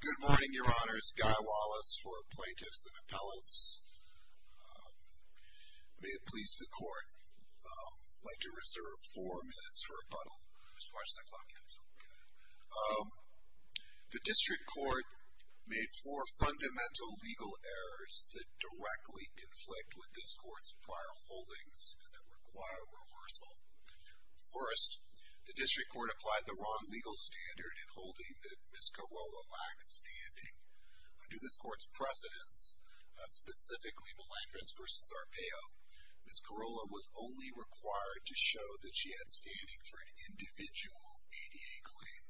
Good morning, Your Honors. Guy Wallace for Plaintiffs and Appellants. May it please the Court, I'd like to reserve four minutes for rebuttal. The District Court made four fundamental legal errors that directly conflict with this Court's prior holdings and that require reversal. First, the District Court applied the wrong legal standard in holding that Ms. Kirola lacked standing. Under this Court's precedence, specifically Melendrez v. Arpaio, Ms. Kirola was only required to show that she had standing for an individual ADA claim,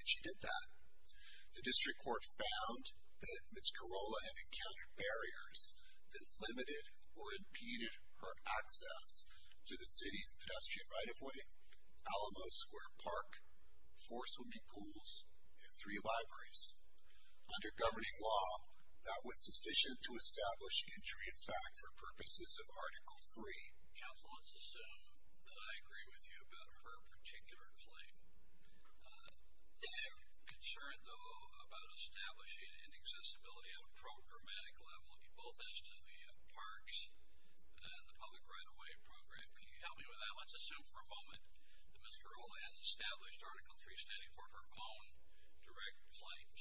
and she did that. The District Court found that Ms. Kirola had encountered barriers that limited or impeded her access to the City's pedestrian right-of-way, Alamo Square Park, 4 swimming pools, and 3 libraries. Under governing law, that was sufficient to establish injury in fact for purposes of Article 3. Counsel, let's assume that I agree with you about her particular claim. I'm concerned, though, about establishing an accessibility at a programmatic level, both as to the parks and the public right-of-way program. Can you help me with that? Let's assume for a moment that Ms. Kirola has established Article 3 standing for her own direct claims.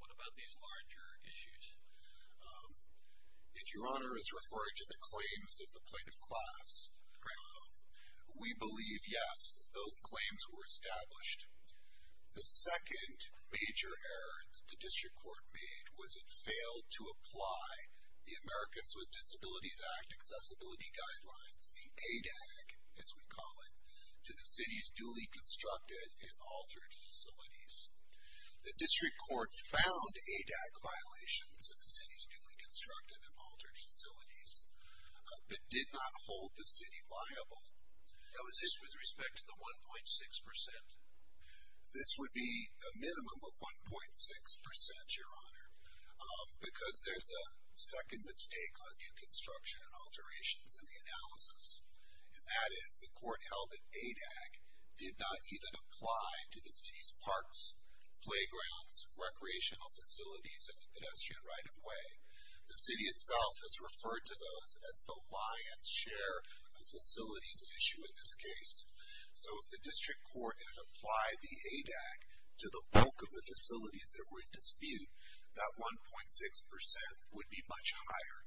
What about these larger issues? If Your Honor is referring to the claims of the plaintiff class, we believe, yes, those claims were established. The second major error that the District Court made was it failed to apply the Americans with Disabilities Act Accessibility Guidelines, the ADAG, as we call it, to the City's newly constructed and altered facilities. The District Court found ADAG violations in the City's newly constructed and altered facilities, but did not hold the City liable. Now, is this with respect to the 1.6%? This would be a minimum of 1.6%, Your Honor, because there's a second mistake on new construction and alterations in the analysis, and that is the Court held that ADAG did not even apply to the City's parks, playgrounds, recreational facilities, and the pedestrian right-of-way. The City itself has referred to those as the lion's share of facilities at issue in this case. So if the District Court had applied the ADAG to the bulk of the facilities that were in dispute, that 1.6% would be much higher.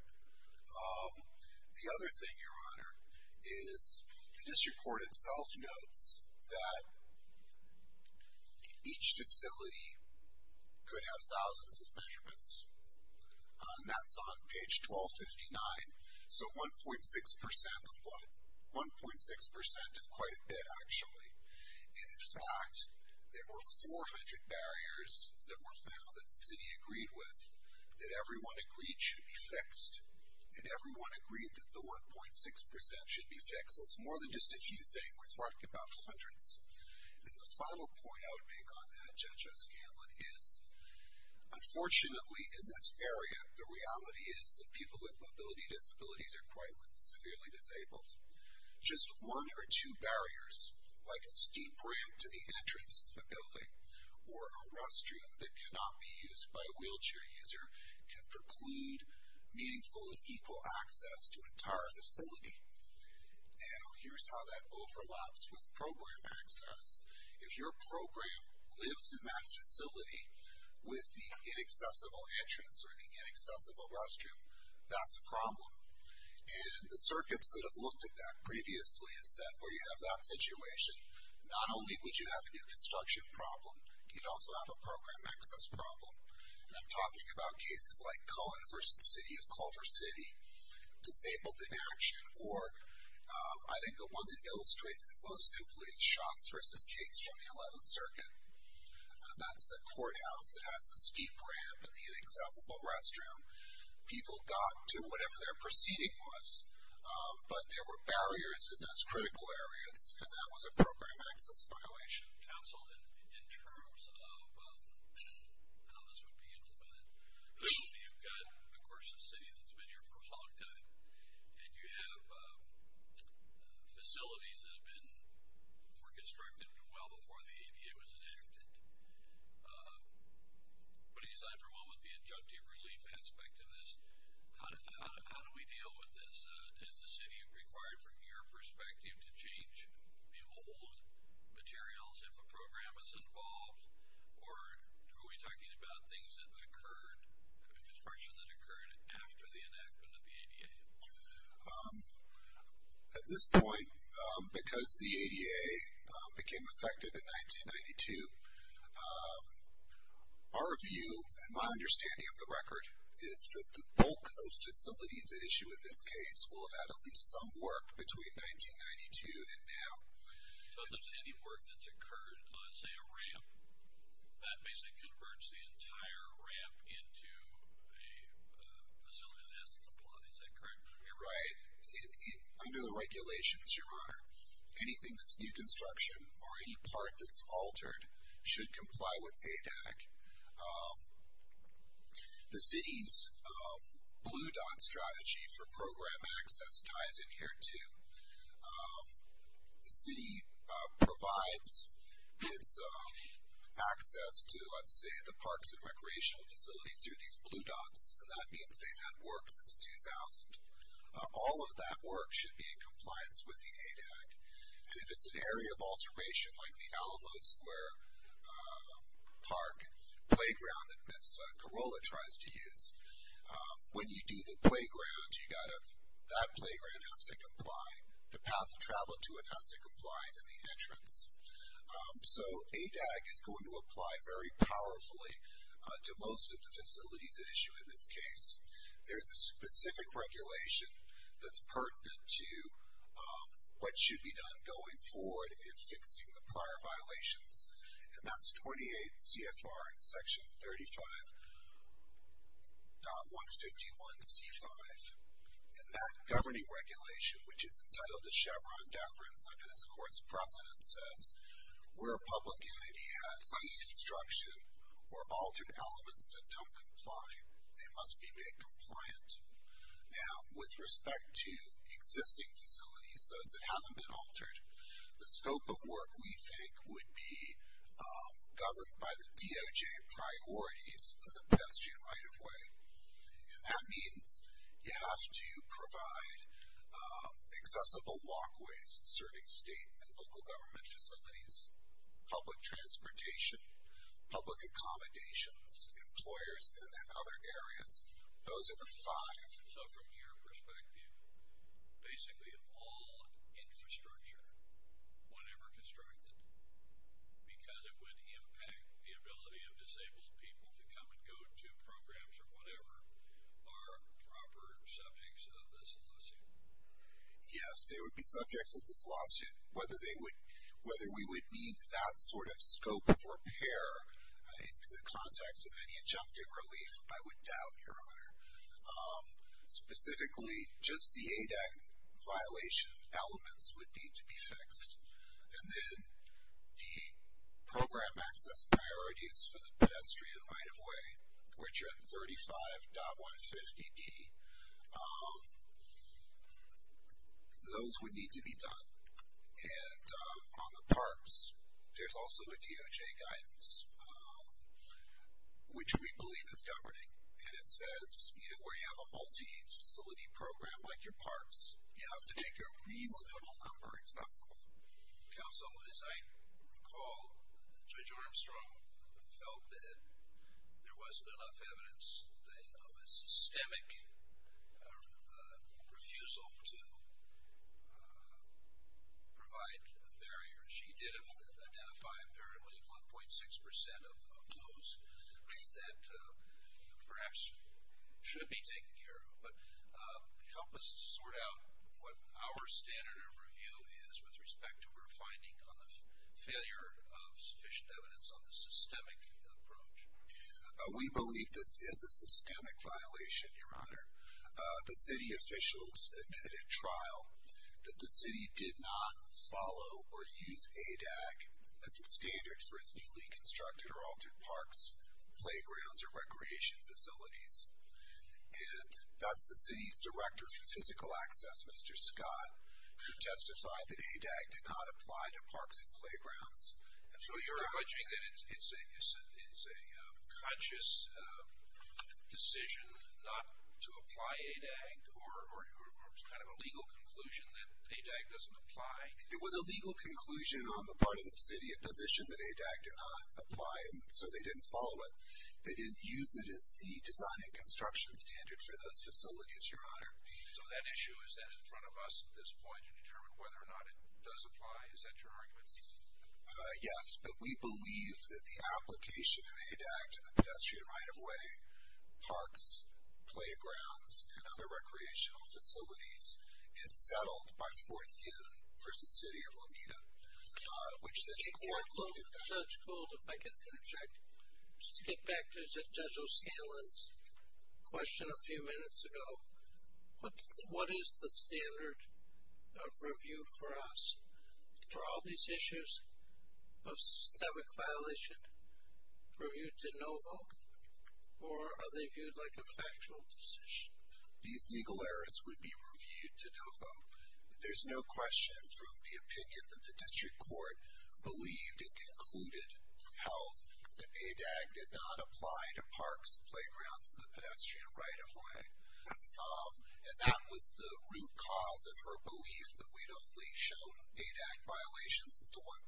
The other thing, Your Honor, is the District Court itself notes that each facility could have thousands of measurements. That's on page 1259, so 1.6% of what? 1.6% of quite a bit, actually. And, in fact, there were 400 barriers that were found that the City agreed with, that everyone agreed should be fixed, and everyone agreed that the 1.6% should be fixed. That's more than just a few things. We're talking about hundreds. And the final point I would make on that, Judge O'Scanlan, is, unfortunately, in this area, the reality is that people with mobility disabilities are quite severely disabled. Just one or two barriers, like a steep ramp to the entrance of a building or a restroom that cannot be used by a wheelchair user, can preclude meaningful and equal access to an entire facility. Now, here's how that overlaps with program access. If your program lives in that facility with the inaccessible entrance or the inaccessible restroom, that's a problem. And the circuits that have looked at that previously have said where you have that situation, not only would you have a new construction problem, you'd also have a program access problem. I'm talking about cases like Cohen v. City of Culver City, Disabled in Action, or I think the one that illustrates it most simply, Schatz v. Cates from the 11th Circuit. That's the courthouse that has the steep ramp and the inaccessible restroom. People got to whatever their proceeding was, but there were barriers in those critical areas, and that was a program access violation. Council, in terms of how this would be implemented, you've got, of course, a city that's been here for a long time, and you have facilities that were constructed well before the ADA was enacted. Putting aside for a moment the injunctive relief aspect of this, how do we deal with this? Is the city required, from your perspective, to change the old materials if a program is involved, or are we talking about things that occurred, construction that occurred after the enactment of the ADA? At this point, because the ADA became effective in 1992, our view and my understanding of the record is that the bulk of facilities at issue in this case will have had at least some work between 1992 and now. So if there's any work that's occurred on, say, a ramp, that basically converts the entire ramp into a facility that has to comply. Is that correct? Right. Under the regulations, Your Honor, anything that's new construction or any part that's altered should comply with ADAC. The city's blue dot strategy for program access ties in here, too. The city provides its access to, let's say, the parks and recreational facilities through these blue dots, and that means they've had work since 2000. All of that work should be in compliance with the ADAC. And if it's an area of alteration, like the Alamo Square Park playground that Miss Corolla tries to use, when you do the playground, that playground has to comply. The path of travel to it has to comply with the entrance. So ADAC is going to apply very powerfully to most of the facilities at issue in this case. There's a specific regulation that's pertinent to what should be done going forward in fixing the prior violations, and that's 28 CFR in Section 35.151C5. And that governing regulation, which is entitled the Chevron Deference under this court's precedent, says where a public entity has any construction or altered elements that don't comply, they must be made compliant. Now, with respect to existing facilities, those that haven't been altered, the scope of work we think would be governed by the DOJ priorities for the pedestrian right-of-way, and that means you have to provide accessible walkways serving state and local government facilities, public transportation, public accommodations, employers, and then other areas. Those are the five. So from your perspective, basically all infrastructure, whatever constructed, because it would impact the ability of disabled people to come and go to programs or whatever, are proper subjects of this lawsuit? Yes, they would be subjects of this lawsuit. Whether we would need that sort of scope of repair in the context of any adjunctive relief, I would doubt, Your Honor. Specifically, just the ADAC violation elements would need to be fixed, and then the program access priorities for the pedestrian right-of-way, which are in 35.150D, those would need to be done. And on the parks, there's also a DOJ guidance, which we believe is governing, and it says where you have a multi-facility program like your parks, you have to make a reasonable number accessible. Counsel, as I recall, Judge Armstrong felt that there wasn't enough evidence of a systemic refusal to provide barriers. She did identify apparently 1.6% of those that perhaps should be taken care of. But help us sort out what our standard of review is with respect to our finding on the failure of sufficient evidence on the systemic approach. We believe this is a systemic violation, Your Honor. The city officials admitted at trial that the city did not follow or use ADAC as the standard for its newly constructed or altered parks, playgrounds, or recreation facilities. And that's the city's director for physical access, Mr. Scott, who testified that ADAC did not apply to parks and playgrounds. And so you're arguing that it's a conscious decision not to apply ADAC or it was kind of a legal conclusion that ADAC doesn't apply? It was a legal conclusion on the part of the city, a position that ADAC did not apply, and so they didn't follow it. They didn't use it as the design and construction standard for those facilities, Your Honor. So that issue is then in front of us at this point to determine whether or not it does apply. Is that your argument? Yes, but we believe that the application of ADAC to the pedestrian right-of-way, parks, playgrounds, and other recreational facilities is settled by Fort Yoon versus City of Lomita, which this court will do that. Judge Gould, if I can interject. Just to get back to Judge O'Scanlan's question a few minutes ago. What is the standard of review for us for all these issues of systemic violation? Review de novo? Or are they viewed like a factual decision? These legal errors would be reviewed de novo. There's no question from the opinion that the district court believed in the pedestrian right-of-way, and that was the root cause of her belief that we'd only shown ADAC violations as to 1.6%,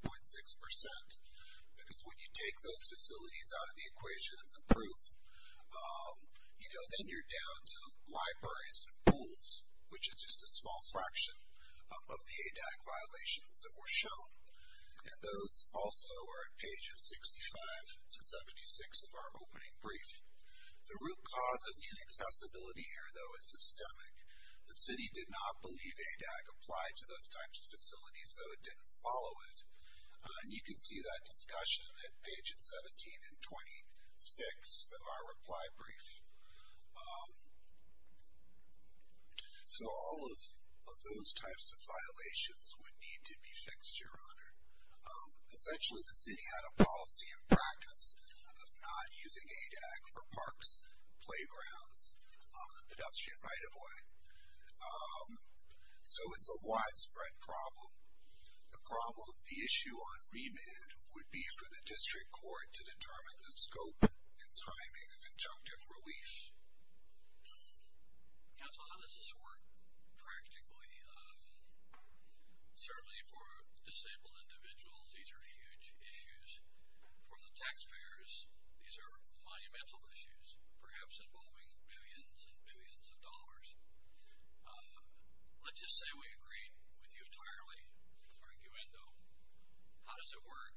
because when you take those facilities out of the equation of the proof, then you're down to libraries and pools, which is just a small fraction of the ADAC violations that were shown. And those also are at pages 65 to 76 of our opening brief. The root cause of the inaccessibility here, though, is systemic. The city did not believe ADAC applied to those types of facilities, so it didn't follow it. And you can see that discussion at pages 17 and 26 of our reply brief. So all of those types of violations would need to be fixed, Your Honor. Essentially, the city had a policy and practice of not using ADAC for parks, playgrounds, pedestrian right-of-way. So it's a widespread problem. The problem, the issue on remit would be for the district court to determine the scope and timing of injunctive relief. Counsel, how does this work practically? Certainly for disabled individuals, these are huge issues. For the taxpayers, these are monumental issues, perhaps involving billions and billions of dollars. Let's just say we agreed with you entirely, arguendo. How does it work?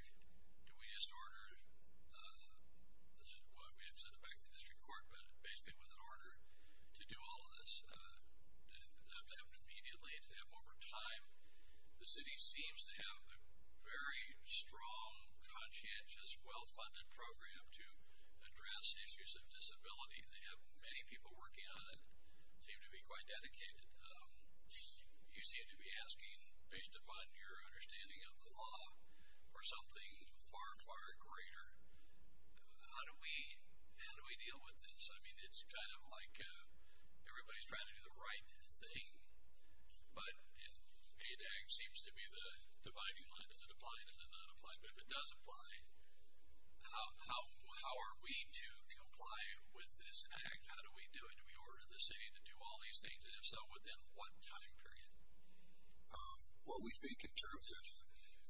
Do we just order, as we have said back in the district court, but basically with an order to do all of this? Does it have to happen immediately? Does it have to happen over time? The city seems to have a very strong, conscientious, well-funded program to address issues of disability. They have many people working on it, seem to be quite dedicated. You seem to be asking, based upon your understanding of the law, for something far, far greater, how do we deal with this? I mean, it's kind of like everybody's trying to do the right thing, but it seems to be the dividing line. Does it apply? Does it not apply? But if it does apply, how are we to comply with this act? How do we do it? Do we order the city to do all these things? And if so, within what time period? What we think in terms of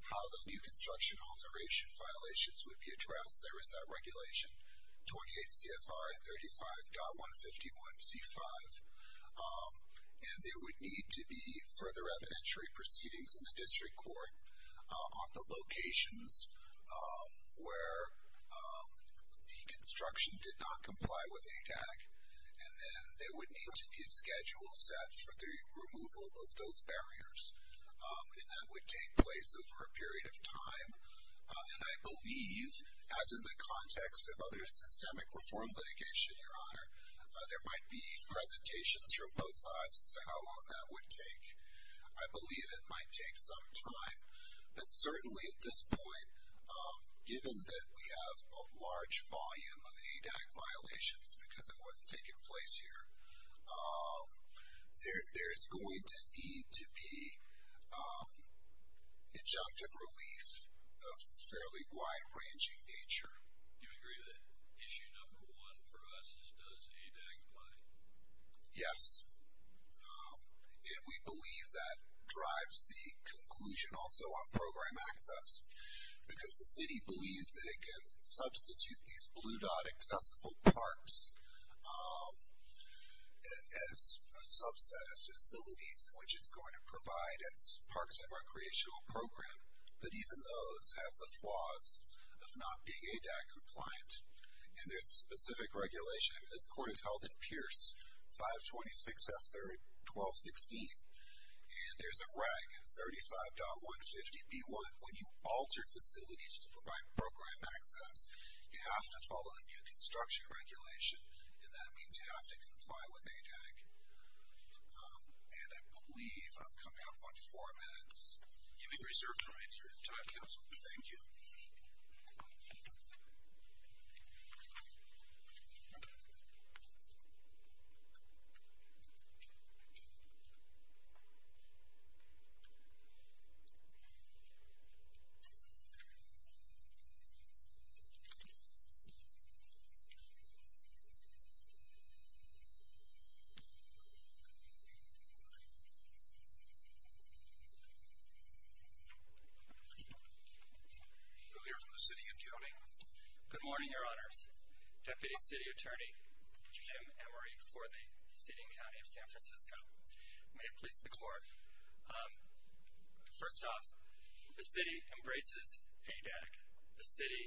how the new construction alteration violations would be addressed, there is that regulation, 28 CFR 35.151C5, and there would need to be further evidentiary proceedings in the district court on the locations where the construction did not comply with ADAC, and then there would need to be a schedule set for the removal of those barriers, and that would take place over a period of time. And I believe, as in the context of other systemic reform litigation, Your Honor, there might be presentations from both sides as to how long that would take. I believe it might take some time. But certainly at this point, given that we have a large volume of ADAC violations because of what's taking place here, there is going to need to be injunctive relief of fairly wide-ranging nature. Do you agree that issue number one for us is does ADAC comply? Yes. And we believe that drives the conclusion also on program access because the city believes that it can substitute these blue-dot accessible parks as a subset of facilities in which it's going to provide its parks and recreational program, but even those have the flaws of not being ADAC compliant. And there's a specific regulation, and this court has held in Pierce 526F1216, and there's a reg 35.150B1. When you alter facilities to provide program access, you have to follow the new construction regulation, and that means you have to comply with ADAC. And I believe I'm coming up on four minutes. You'll be reserved for right here at the time, counsel. Thank you. We'll hear from the city attorney. Good morning, Your Honors. Deputy City Attorney Jim Emery for the city and county of San Francisco. May it please the court. First off, the city embraces ADAC. The city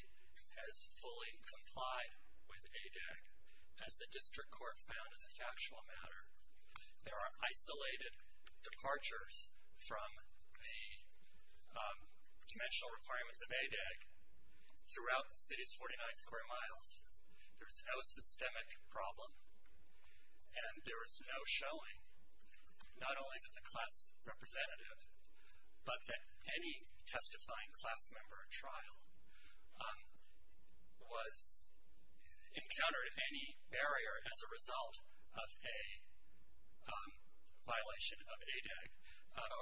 has fully complied with ADAC, as the district court found as a factual matter. There are isolated departures from the dimensional requirements of ADAC throughout the city's 49 square miles. There's no systemic problem, and there is no showing, not only to the class representative, but that any testifying class member at trial was encountered any barrier as a result of a violation of ADAC.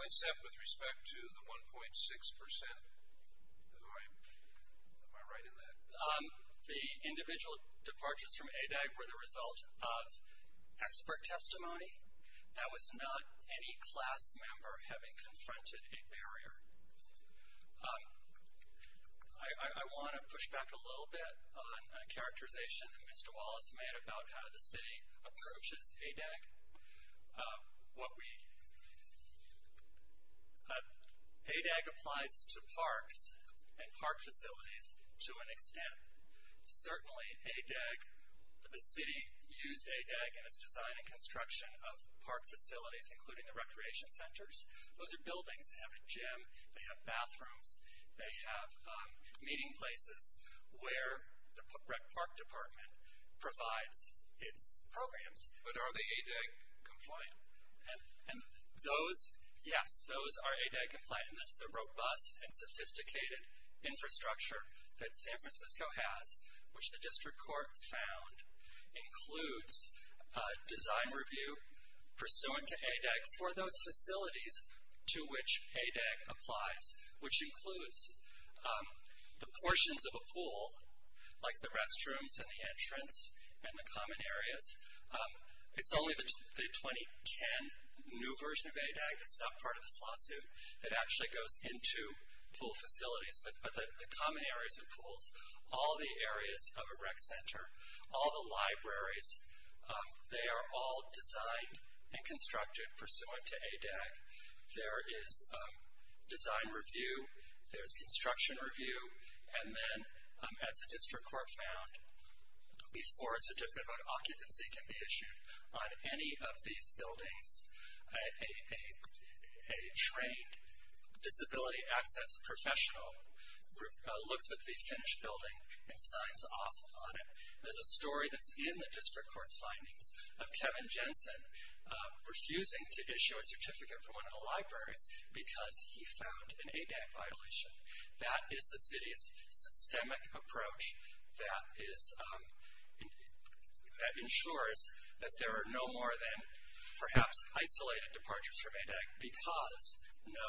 Except with respect to the 1.6%. Am I right in that? The individual departures from ADAC were the result of expert testimony. That was not any class member having confronted a barrier. I want to push back a little bit on a characterization that Mr. Wallace made about how the city approaches ADAC. ADAC applies to parks and park facilities to an extent. Certainly ADAC, the city used ADAC in its design and construction of park facilities, including the recreation centers. Those are buildings. They have a gym. They have bathrooms. They have meeting places where the Rec Park Department provides its programs. But are they ADAC compliant? And those, yes, those are ADAC compliant. And this is the robust and sophisticated infrastructure that San Francisco has, which the district court found includes design review pursuant to ADAC for those facilities to which ADAC applies, which includes the portions of a pool like the restrooms and the entrance and the common areas. It's only the 2010 new version of ADAC that's not part of this lawsuit that actually goes into pool facilities. But the common areas of pools, all the areas of a rec center, all the libraries, they are all designed and constructed pursuant to ADAC. There is design review. There's construction review. And then as the district court found before a certificate of occupancy can be issued on any of these buildings, a trained disability access professional looks at the finished building and signs off on it. There's a story that's in the district court's findings of Kevin Jensen refusing to issue a certificate from one of the libraries because he found an ADAC violation. That is the city's systemic approach that ensures that there are no more than perhaps isolated departures from ADAC because no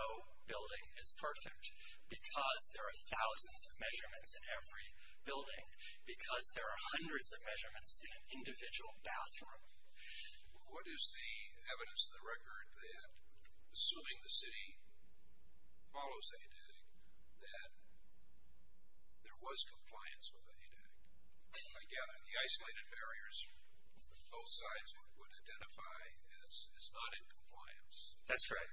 building is perfect, because there are thousands of measurements in every building, because there are hundreds of measurements in an individual bathroom. What is the evidence in the record that, assuming the city follows ADAC, that there was compliance with ADAC? I gather the isolated barriers on both sides would identify as not in compliance. That's right.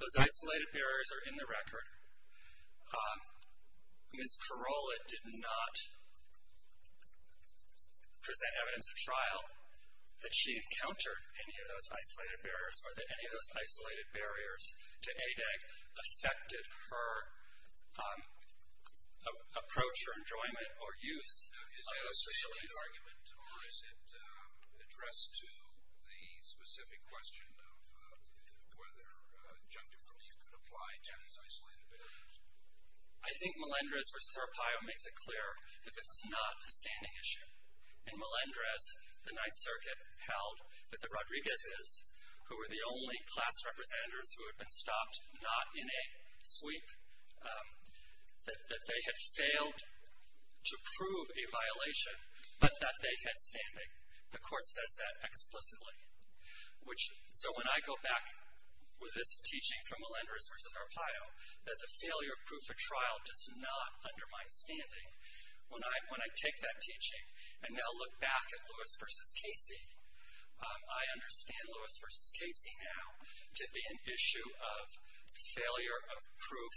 Those isolated barriers are in the record. Ms. Carolla did not present evidence at trial that she encountered any of those isolated barriers or that any of those isolated barriers to ADAC affected her approach or enjoyment or use of those facilities. Is this an argument or is it addressed to the specific question of whether Junctive Relief could apply to these isolated barriers? I think Melendrez versus Arpaio makes it clear that this is not a standing issue. In Melendrez, the Ninth Circuit held that the Rodriguez's, who were the only class representatives who had been stopped not in a sweep, that they had failed to prove a violation. But that they had standing. The court says that explicitly. So when I go back with this teaching from Melendrez versus Arpaio, that the failure of proof at trial does not undermine standing, when I take that teaching and now look back at Lewis versus Casey, I understand Lewis versus Casey now to be an issue of failure of proof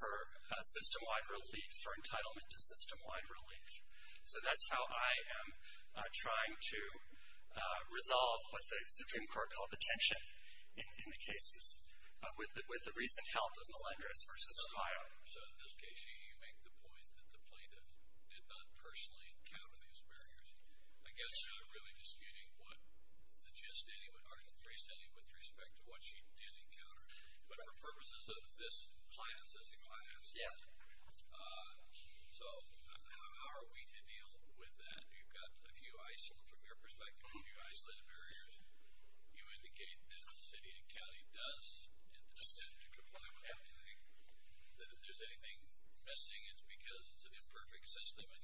for system-wide relief, for entitlement to system-wide relief. So that's how I am trying to resolve what the Supreme Court called the tension in the cases with the recent help of Melendrez versus Arpaio. So in this case, you make the point that the plaintiff did not personally encounter these barriers. I guess I'm not really disputing what the gist, or the reasoning with respect to what she did encounter. But for purposes of this class as a class, so how are we to deal with that? You've got a few isolated, from your perspective, a few isolated barriers. You indicate that the city and county does intend to comply with everything. That if there's anything missing, it's because it's an imperfect system, and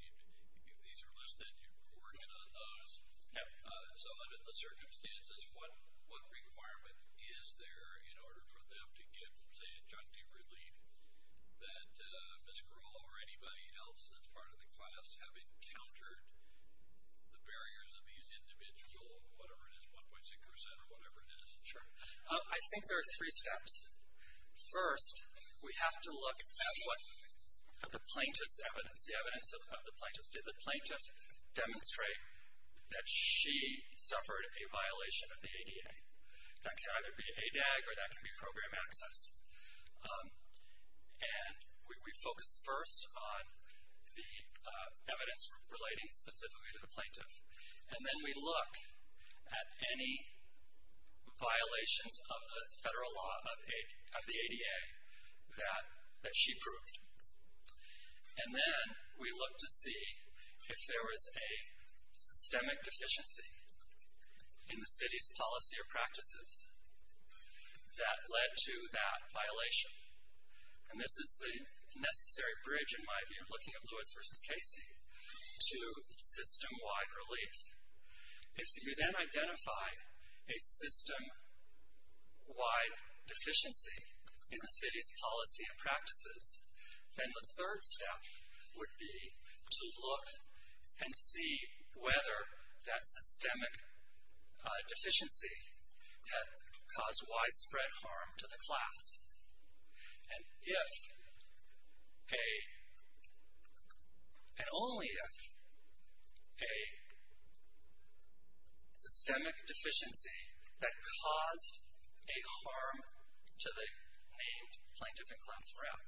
these are listed, you're working on those. So under the circumstances, what requirement is there in order for them to get, say, injunctive relief that Ms. Grohl or anybody else that's part of the class have encountered the barriers of these individual, whatever it is, 1.6% or whatever it is? I think there are three steps. First, we have to look at what the plaintiff's evidence, did the plaintiff demonstrate that she suffered a violation of the ADA? That can either be ADAG or that can be program access. And we focus first on the evidence relating specifically to the plaintiff. And then we look at any violations of the federal law, of the ADA, that she proved. And then we look to see if there was a systemic deficiency in the city's policy or practices that led to that violation. And this is the necessary bridge, in my view, looking at Lewis versus Casey, to system-wide relief. If you then identify a system-wide deficiency in the city's policy and practices, then the third step would be to look and see whether that systemic deficiency had caused widespread harm to the class. And only if a systemic deficiency that caused a harm to the named plaintiff and class rep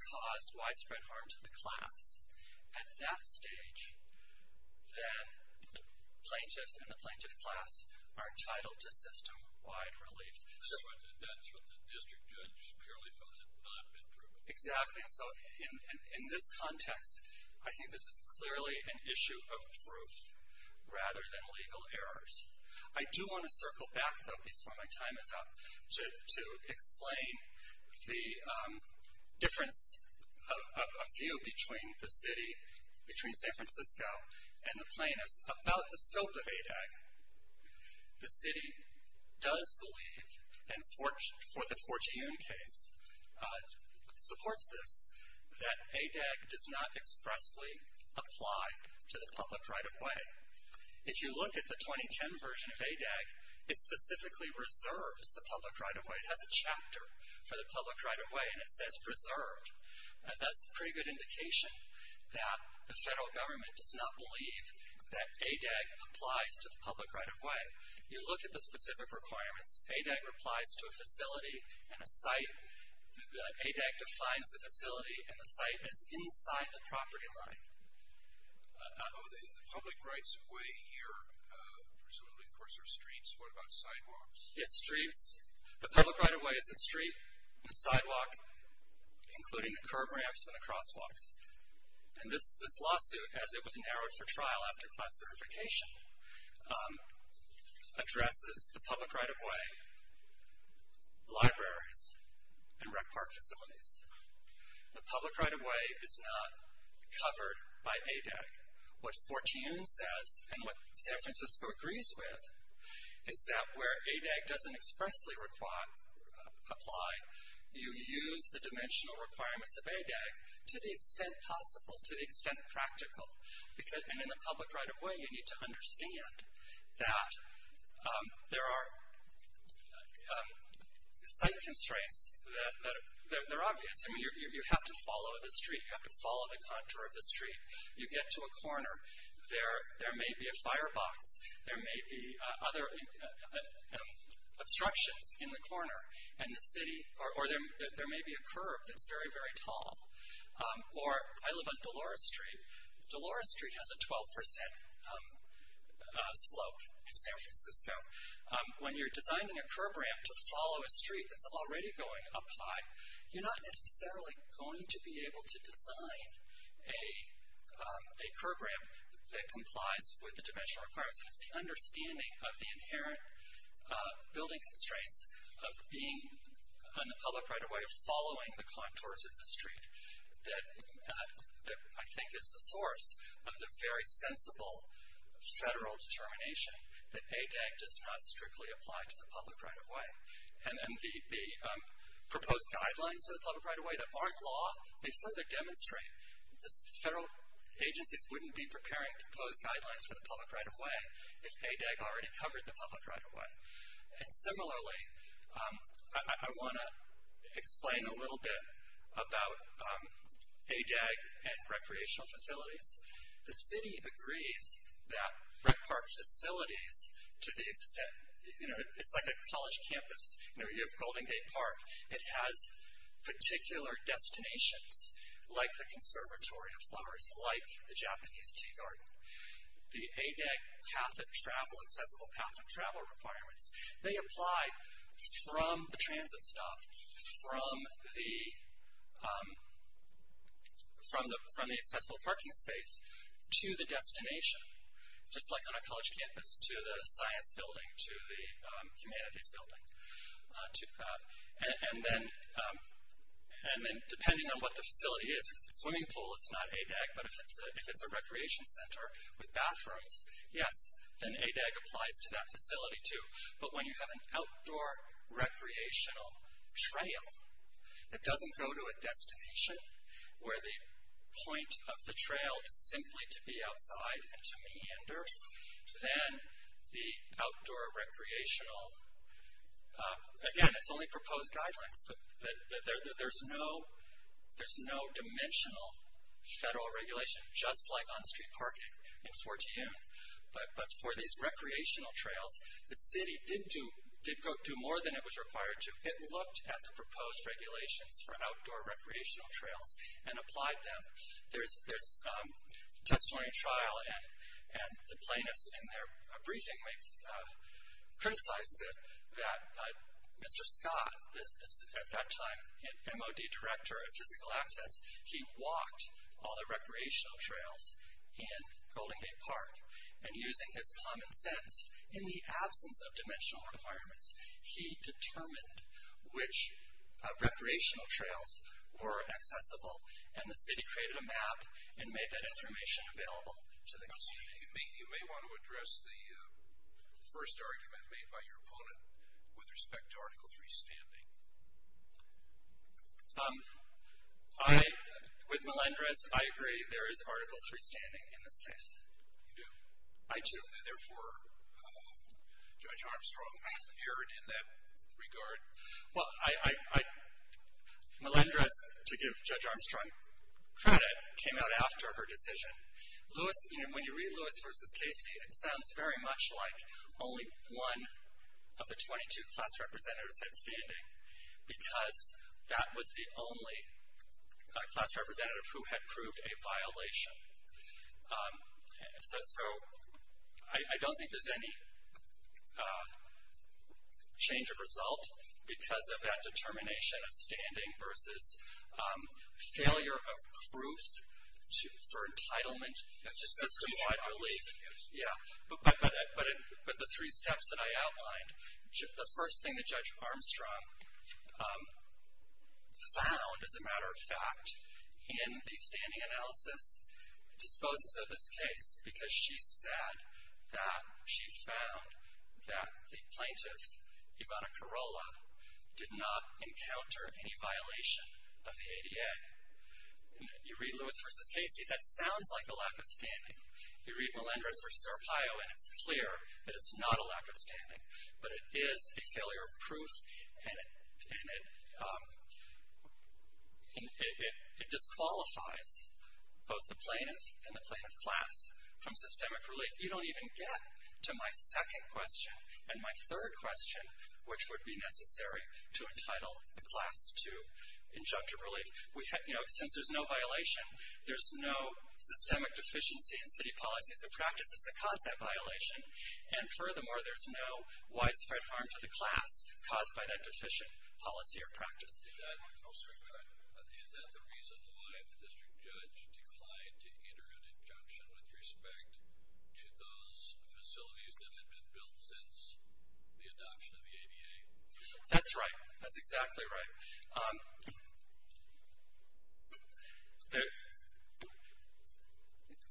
caused widespread harm to the class, at that stage, then the plaintiff and the plaintiff class are titled to system-wide relief. So that's what the district judge purely thought had not been proven. Exactly. And so in this context, I think this is clearly an issue of proof rather than legal errors. I do want to circle back, though, before my time is up, to explain the difference of a few between the city, between San Francisco and the plaintiffs, about the scope of ADAG. The city does believe, and for the Fortune case supports this, that ADAG does not expressly apply to the public right-of-way. If you look at the 2010 version of ADAG, it specifically reserves the public right-of-way. It has a chapter for the public right-of-way, and it says reserved. And that's a pretty good indication that the federal government does not believe that ADAG applies to the public right-of-way. You look at the specific requirements. ADAG applies to a facility and a site. ADAG defines a facility, and the site is inside the property line. The public right-of-way here presumably, of course, are streets. What about sidewalks? Yes, streets. The public right-of-way is a street and a sidewalk, including the curb ramps and the crosswalks. And this lawsuit, as it was narrowed for trial after class certification, addresses the public right-of-way, libraries, and rec park facilities. The public right-of-way is not covered by ADAG. What Fortune says, and what San Francisco agrees with, is that where ADAG doesn't expressly apply, you use the dimensional requirements of ADAG to the extent possible, to the extent practical. And in the public right-of-way, you need to understand that there are site constraints that are obvious. I mean, you have to follow the street. You have to follow the contour of the street. You get to a corner. There may be a firebox. There may be other obstructions in the corner and the city, or there may be a curb that's very, very tall. Or I live on Dolores Street. Dolores Street has a 12% slope in San Francisco. When you're designing a curb ramp to follow a street that's already going up high, you're not necessarily going to be able to design a curb ramp that complies with the dimensional requirements. It's the understanding of the inherent building constraints of being on the public right-of-way, of following the contours of the street, that I think is the source of the very sensible federal determination that ADAG does not strictly apply to the public right-of-way. And the proposed guidelines for the public right-of-way that aren't law, they further demonstrate that federal agencies wouldn't be preparing proposed guidelines for the public right-of-way if ADAG already covered the public right-of-way. And similarly, I want to explain a little bit about ADAG and recreational facilities. The city agrees that rec park facilities, to the extent, you know, it's like a college campus. You know, you have Golden Gate Park. It has particular destinations, like the Conservatory of Flowers, like the Japanese Tea Garden. The ADAG path of travel, accessible path of travel requirements, they apply from the transit stop, from the accessible parking space to the destination, just like on a college campus, to the science building, to the humanities building. And then depending on what the facility is, if it's a swimming pool, it's not ADAG. But if it's a recreation center with bathrooms, yes, then ADAG applies to that facility, too. But when you have an outdoor recreational trail that doesn't go to a destination where the point of the trail is simply to be outside and to meander, then the outdoor recreational, again, it's only proposed guidelines, but there's no dimensional federal regulation, just like on street parking in Fort Union. But for these recreational trails, the city did do more than it was required to. It looked at the proposed regulations for outdoor recreational trails and applied them. There's testimony trial, and the plaintiffs in their briefing makes, criticizes it that Mr. Scott, at that time an MOD director of physical access, he walked all the recreational trails in Golden Gate Park. And using his common sense, in the absence of dimensional requirements, he determined which recreational trails were accessible, and the city created a map and made that information available to the community. If you may, you may want to address the first argument made by your opponent with respect to Article III standing. With Melendrez, I agree there is Article III standing in this case. You do? I do. And therefore, Judge Armstrong appeared in that regard? Well, Melendrez, to give Judge Armstrong credit, came out after her decision. When you read Lewis v. Casey, it sounds very much like only one of the 22 class representatives had standing, because that was the only class representative who had proved a violation. So I don't think there's any change of result because of that determination of standing versus failure of proof for entitlement to system-wide relief. But the three steps that I outlined, the first thing that Judge Armstrong found, as a matter of fact, in the standing analysis disposes of this case because she said that she found that the plaintiff, Ivana Carolla, did not encounter any violation of the ADA. You read Lewis v. Casey, that sounds like a lack of standing. You read Melendrez v. Arpaio, and it's clear that it's not a lack of standing. But it is a failure of proof, and it disqualifies both the plaintiff and the plaintiff class from systemic relief. You don't even get to my second question and my third question, which would be necessary to entitle the class to injunctive relief. Since there's no violation, there's no systemic deficiency in city policies and practices that cause that violation, and furthermore, there's no widespread harm to the class caused by that deficient policy or practice. Is that the reason why the district judge declined to enter an injunction with respect to those facilities that had been built since the adoption of the ADA? That's right. That's exactly right.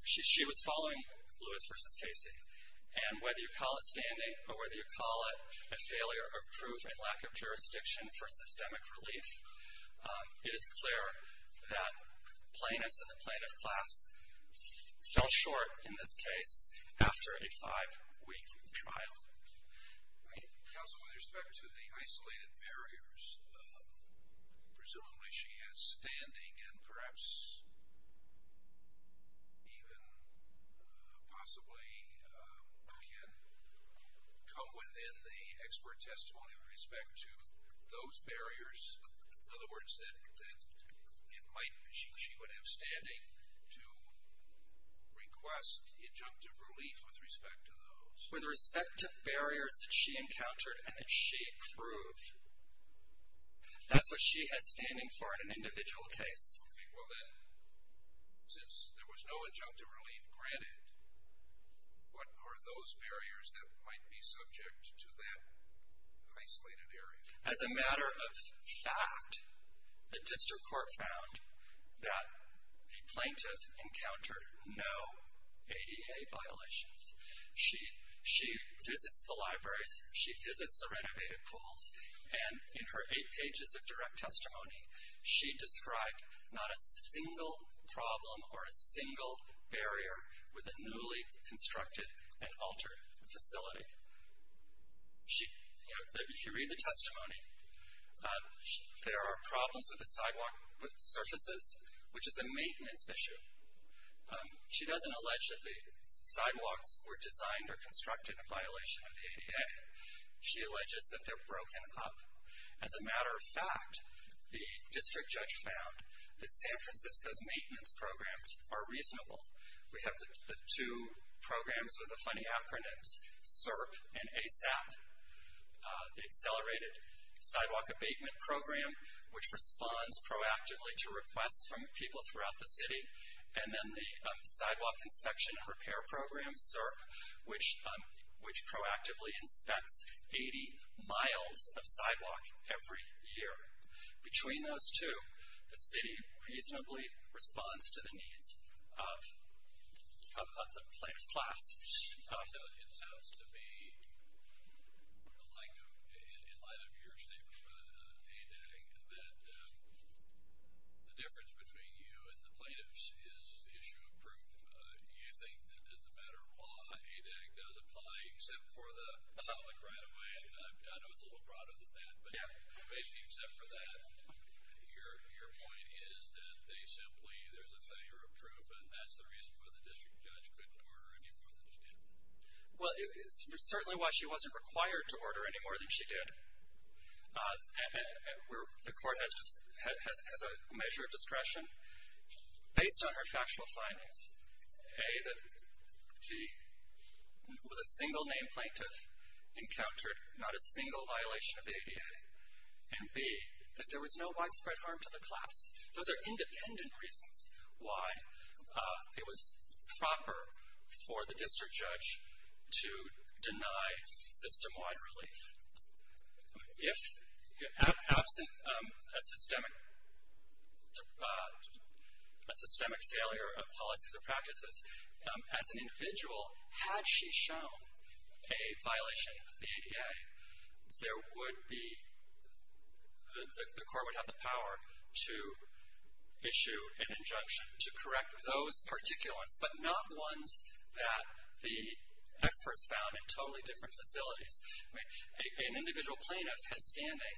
She was following Lewis v. Casey, and whether you call it standing or whether you call it a failure of proof and lack of jurisdiction for systemic relief, it is clear that plaintiffs and the plaintiff class fell short in this case after a five-week trial. Counsel, with respect to the isolated barriers, presumably she has standing and perhaps even possibly can come within the expert testimony with respect to those barriers. In other words, she would have standing to request injunctive relief with respect to those. With respect to barriers that she encountered and that she approved, that's what she has standing for in an individual case. Okay, well then, since there was no injunctive relief granted, what are those barriers that might be subject to that isolated area? As a matter of fact, the district court found that the plaintiff encountered no ADA violations. She visits the libraries. She visits the renovated pools. And in her eight pages of direct testimony, she described not a single problem or a single barrier with a newly constructed and altered facility. If you read the testimony, there are problems with the sidewalk surfaces, which is a maintenance issue. She doesn't allege that the sidewalks were designed or constructed in violation of the ADA. She alleges that they're broken up. As a matter of fact, the district judge found that San Francisco's maintenance programs are reasonable. We have the two programs with the funny acronyms, SERP and ASAP, the Accelerated Sidewalk Abatement Program, which responds proactively to requests from people throughout the city, and then the Sidewalk Inspection and Repair Program, SERP, which proactively inspects 80 miles of sidewalk every year. Between those two, the city reasonably responds to the needs of the plaintiff's class. It sounds to me, in light of your statement about ADAG, that the difference between you and the plaintiffs is the issue of proof. You think that it's a matter of law. ADAG does apply, except for the sidewalk right-of-way. I know it's a little broader than that, but basically, except for that, your point is that they simply, there's a failure of proof, and that's the reason why the district judge couldn't order any more than she did. Well, it's certainly why she wasn't required to order any more than she did. The court has a measure of discretion based on her factual findings, A, that the single-name plaintiff encountered not a single violation of the ADA, and B, that there was no widespread harm to the class. Those are independent reasons why it was proper for the district judge to deny system-wide relief. If, absent a systemic failure of policies or practices, as an individual, had she shown a violation of the ADA, there would be, the court would have the power to issue an injunction to correct those particulants, but not ones that the experts found in totally different facilities. An individual plaintiff has standing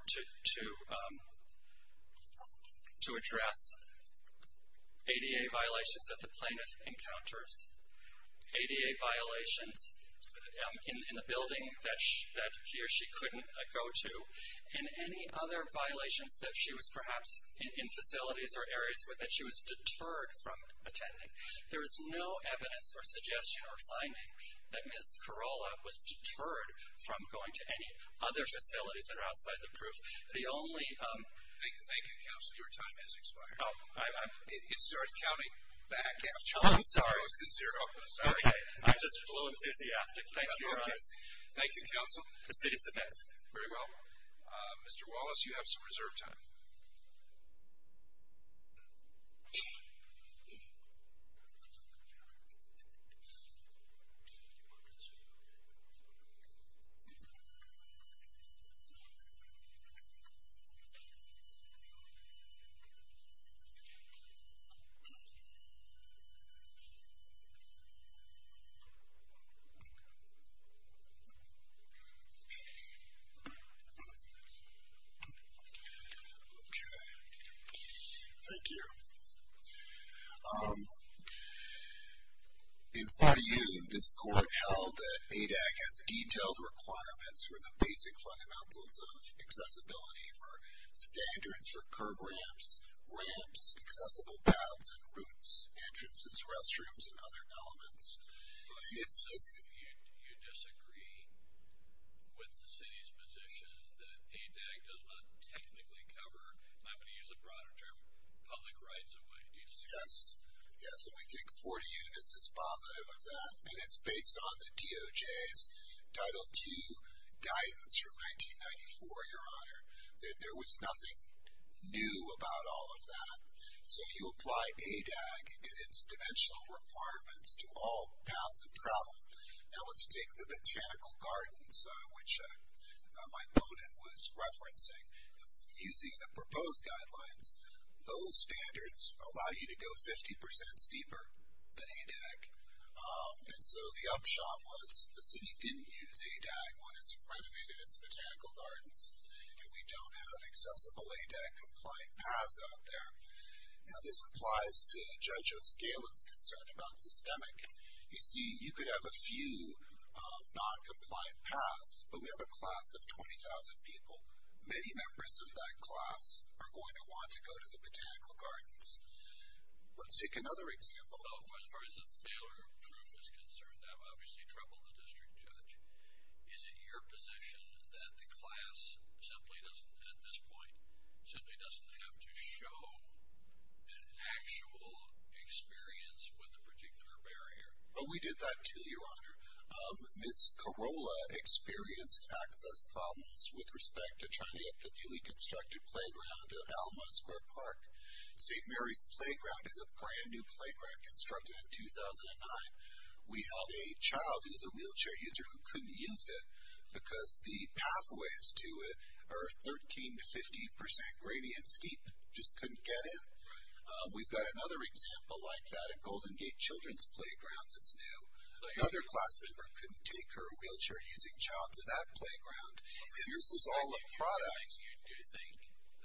to address ADA violations that the plaintiff encounters, ADA violations in a building that he or she couldn't go to, and any other violations that she was perhaps in facilities or areas that she was deterred from attending. There is no evidence or suggestion or finding that Ms. Carolla was deterred from going to any other facilities that are outside the proof. The only- Thank you, counsel. Your time has expired. No, I'm- It starts counting back after- I'm sorry. It goes to zero. I'm sorry. Okay, I'm just a little enthusiastic. Thank you. Thank you, counsel. The city's the best. Very well. Mr. Wallace, you have some reserved time. Okay. Thank you. In 30U, this court held that ADAC has detailed requirements for the basic fundamentals of accessibility for standards for curb ramps, ramps, accessible paths and routes, entrances, restrooms, and other elements. You disagree with the city's position that ADAC does not technically cover, and I'm going to use a broader term, public rights in what you disagree with. Yes. Yes, and we think 40U is dispositive of that, and it's based on the DOJ's Title II guidance from 1994, Your Honor. There was nothing new about all of that. So you apply ADAC and its dimensional requirements to all paths of travel. Now let's take the botanical gardens, which my opponent was referencing. Using the proposed guidelines, those standards allow you to go 50% steeper than ADAC, and so the upshot was the city didn't use ADAC when it's renovated its botanical gardens, and we don't have accessible ADAC-compliant paths out there. Now this applies to Judge O'Scalin's concern about systemic. You see, you could have a few non-compliant paths, but we have a class of 20,000 people. Many members of that class are going to want to go to the botanical gardens. Let's take another example. As far as the failure proof is concerned, that would obviously trouble the district judge. Is it your position that the class simply doesn't, at this point, simply doesn't have to show an actual experience with a particular barrier? We did that too, Your Honor. Ms. Carolla experienced access problems with respect to turning up the newly constructed playground at Alma Square Park. St. Mary's Playground is a brand-new playground constructed in 2009. We held a child who was a wheelchair user who couldn't use it because the pathways to it are 13% to 15% gradient steep, just couldn't get in. We've got another example like that at Golden Gate Children's Playground that's new. Another class member couldn't take her wheelchair-using child to that playground. And this is all a product. You do think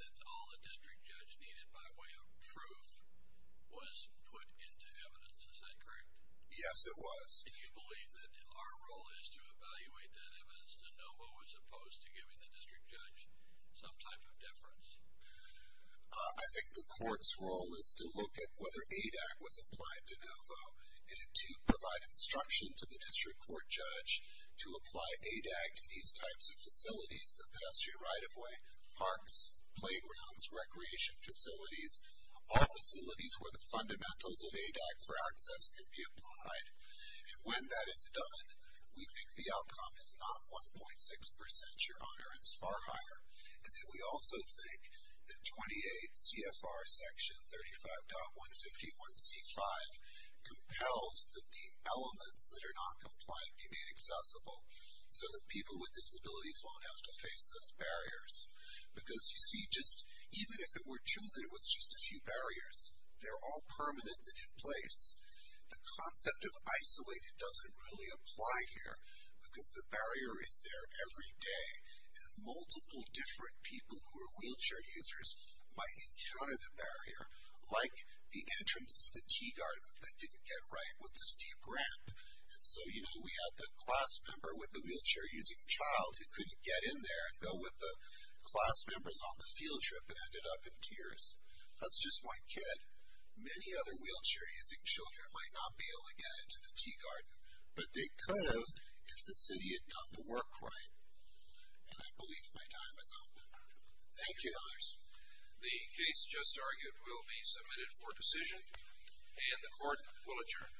that all the district judge needed by way of proof was put into evidence. Is that correct? Yes, it was. And you believe that our role is to evaluate that evidence to know what was opposed to giving the district judge some type of deference? I think the court's role is to look at whether ADAC was applied to NOVO and to provide instruction to the district court judge to apply ADAC to these types of facilities, the pedestrian right-of-way, parks, playgrounds, recreation facilities, all facilities where the fundamentals of ADAC for access can be applied. And when that is done, we think the outcome is not 1.6%, Your Honor, it's far higher. And then we also think that 28 CFR Section 35.151C5 compels that the elements that are not compliant be made accessible so that people with disabilities won't have to face those barriers. Because, you see, just even if it were true that it was just a few barriers, they're all permanent and in place. The concept of isolated doesn't really apply here because the barrier is there every day. And multiple different people who are wheelchair users might encounter the barrier, like the entrance to the tea garden that didn't get right with the steep ramp. And so, you know, we had the class member with the wheelchair-using child who couldn't get in there and go with the class members on the field trip and ended up in tears. That's just one kid. Many other wheelchair-using children might not be able to get into the tea garden, but they could have if the city had done the work right. And I believe my time is up. Thank you. Thank you, officers. The case just argued will be submitted for decision, and the court will adjourn.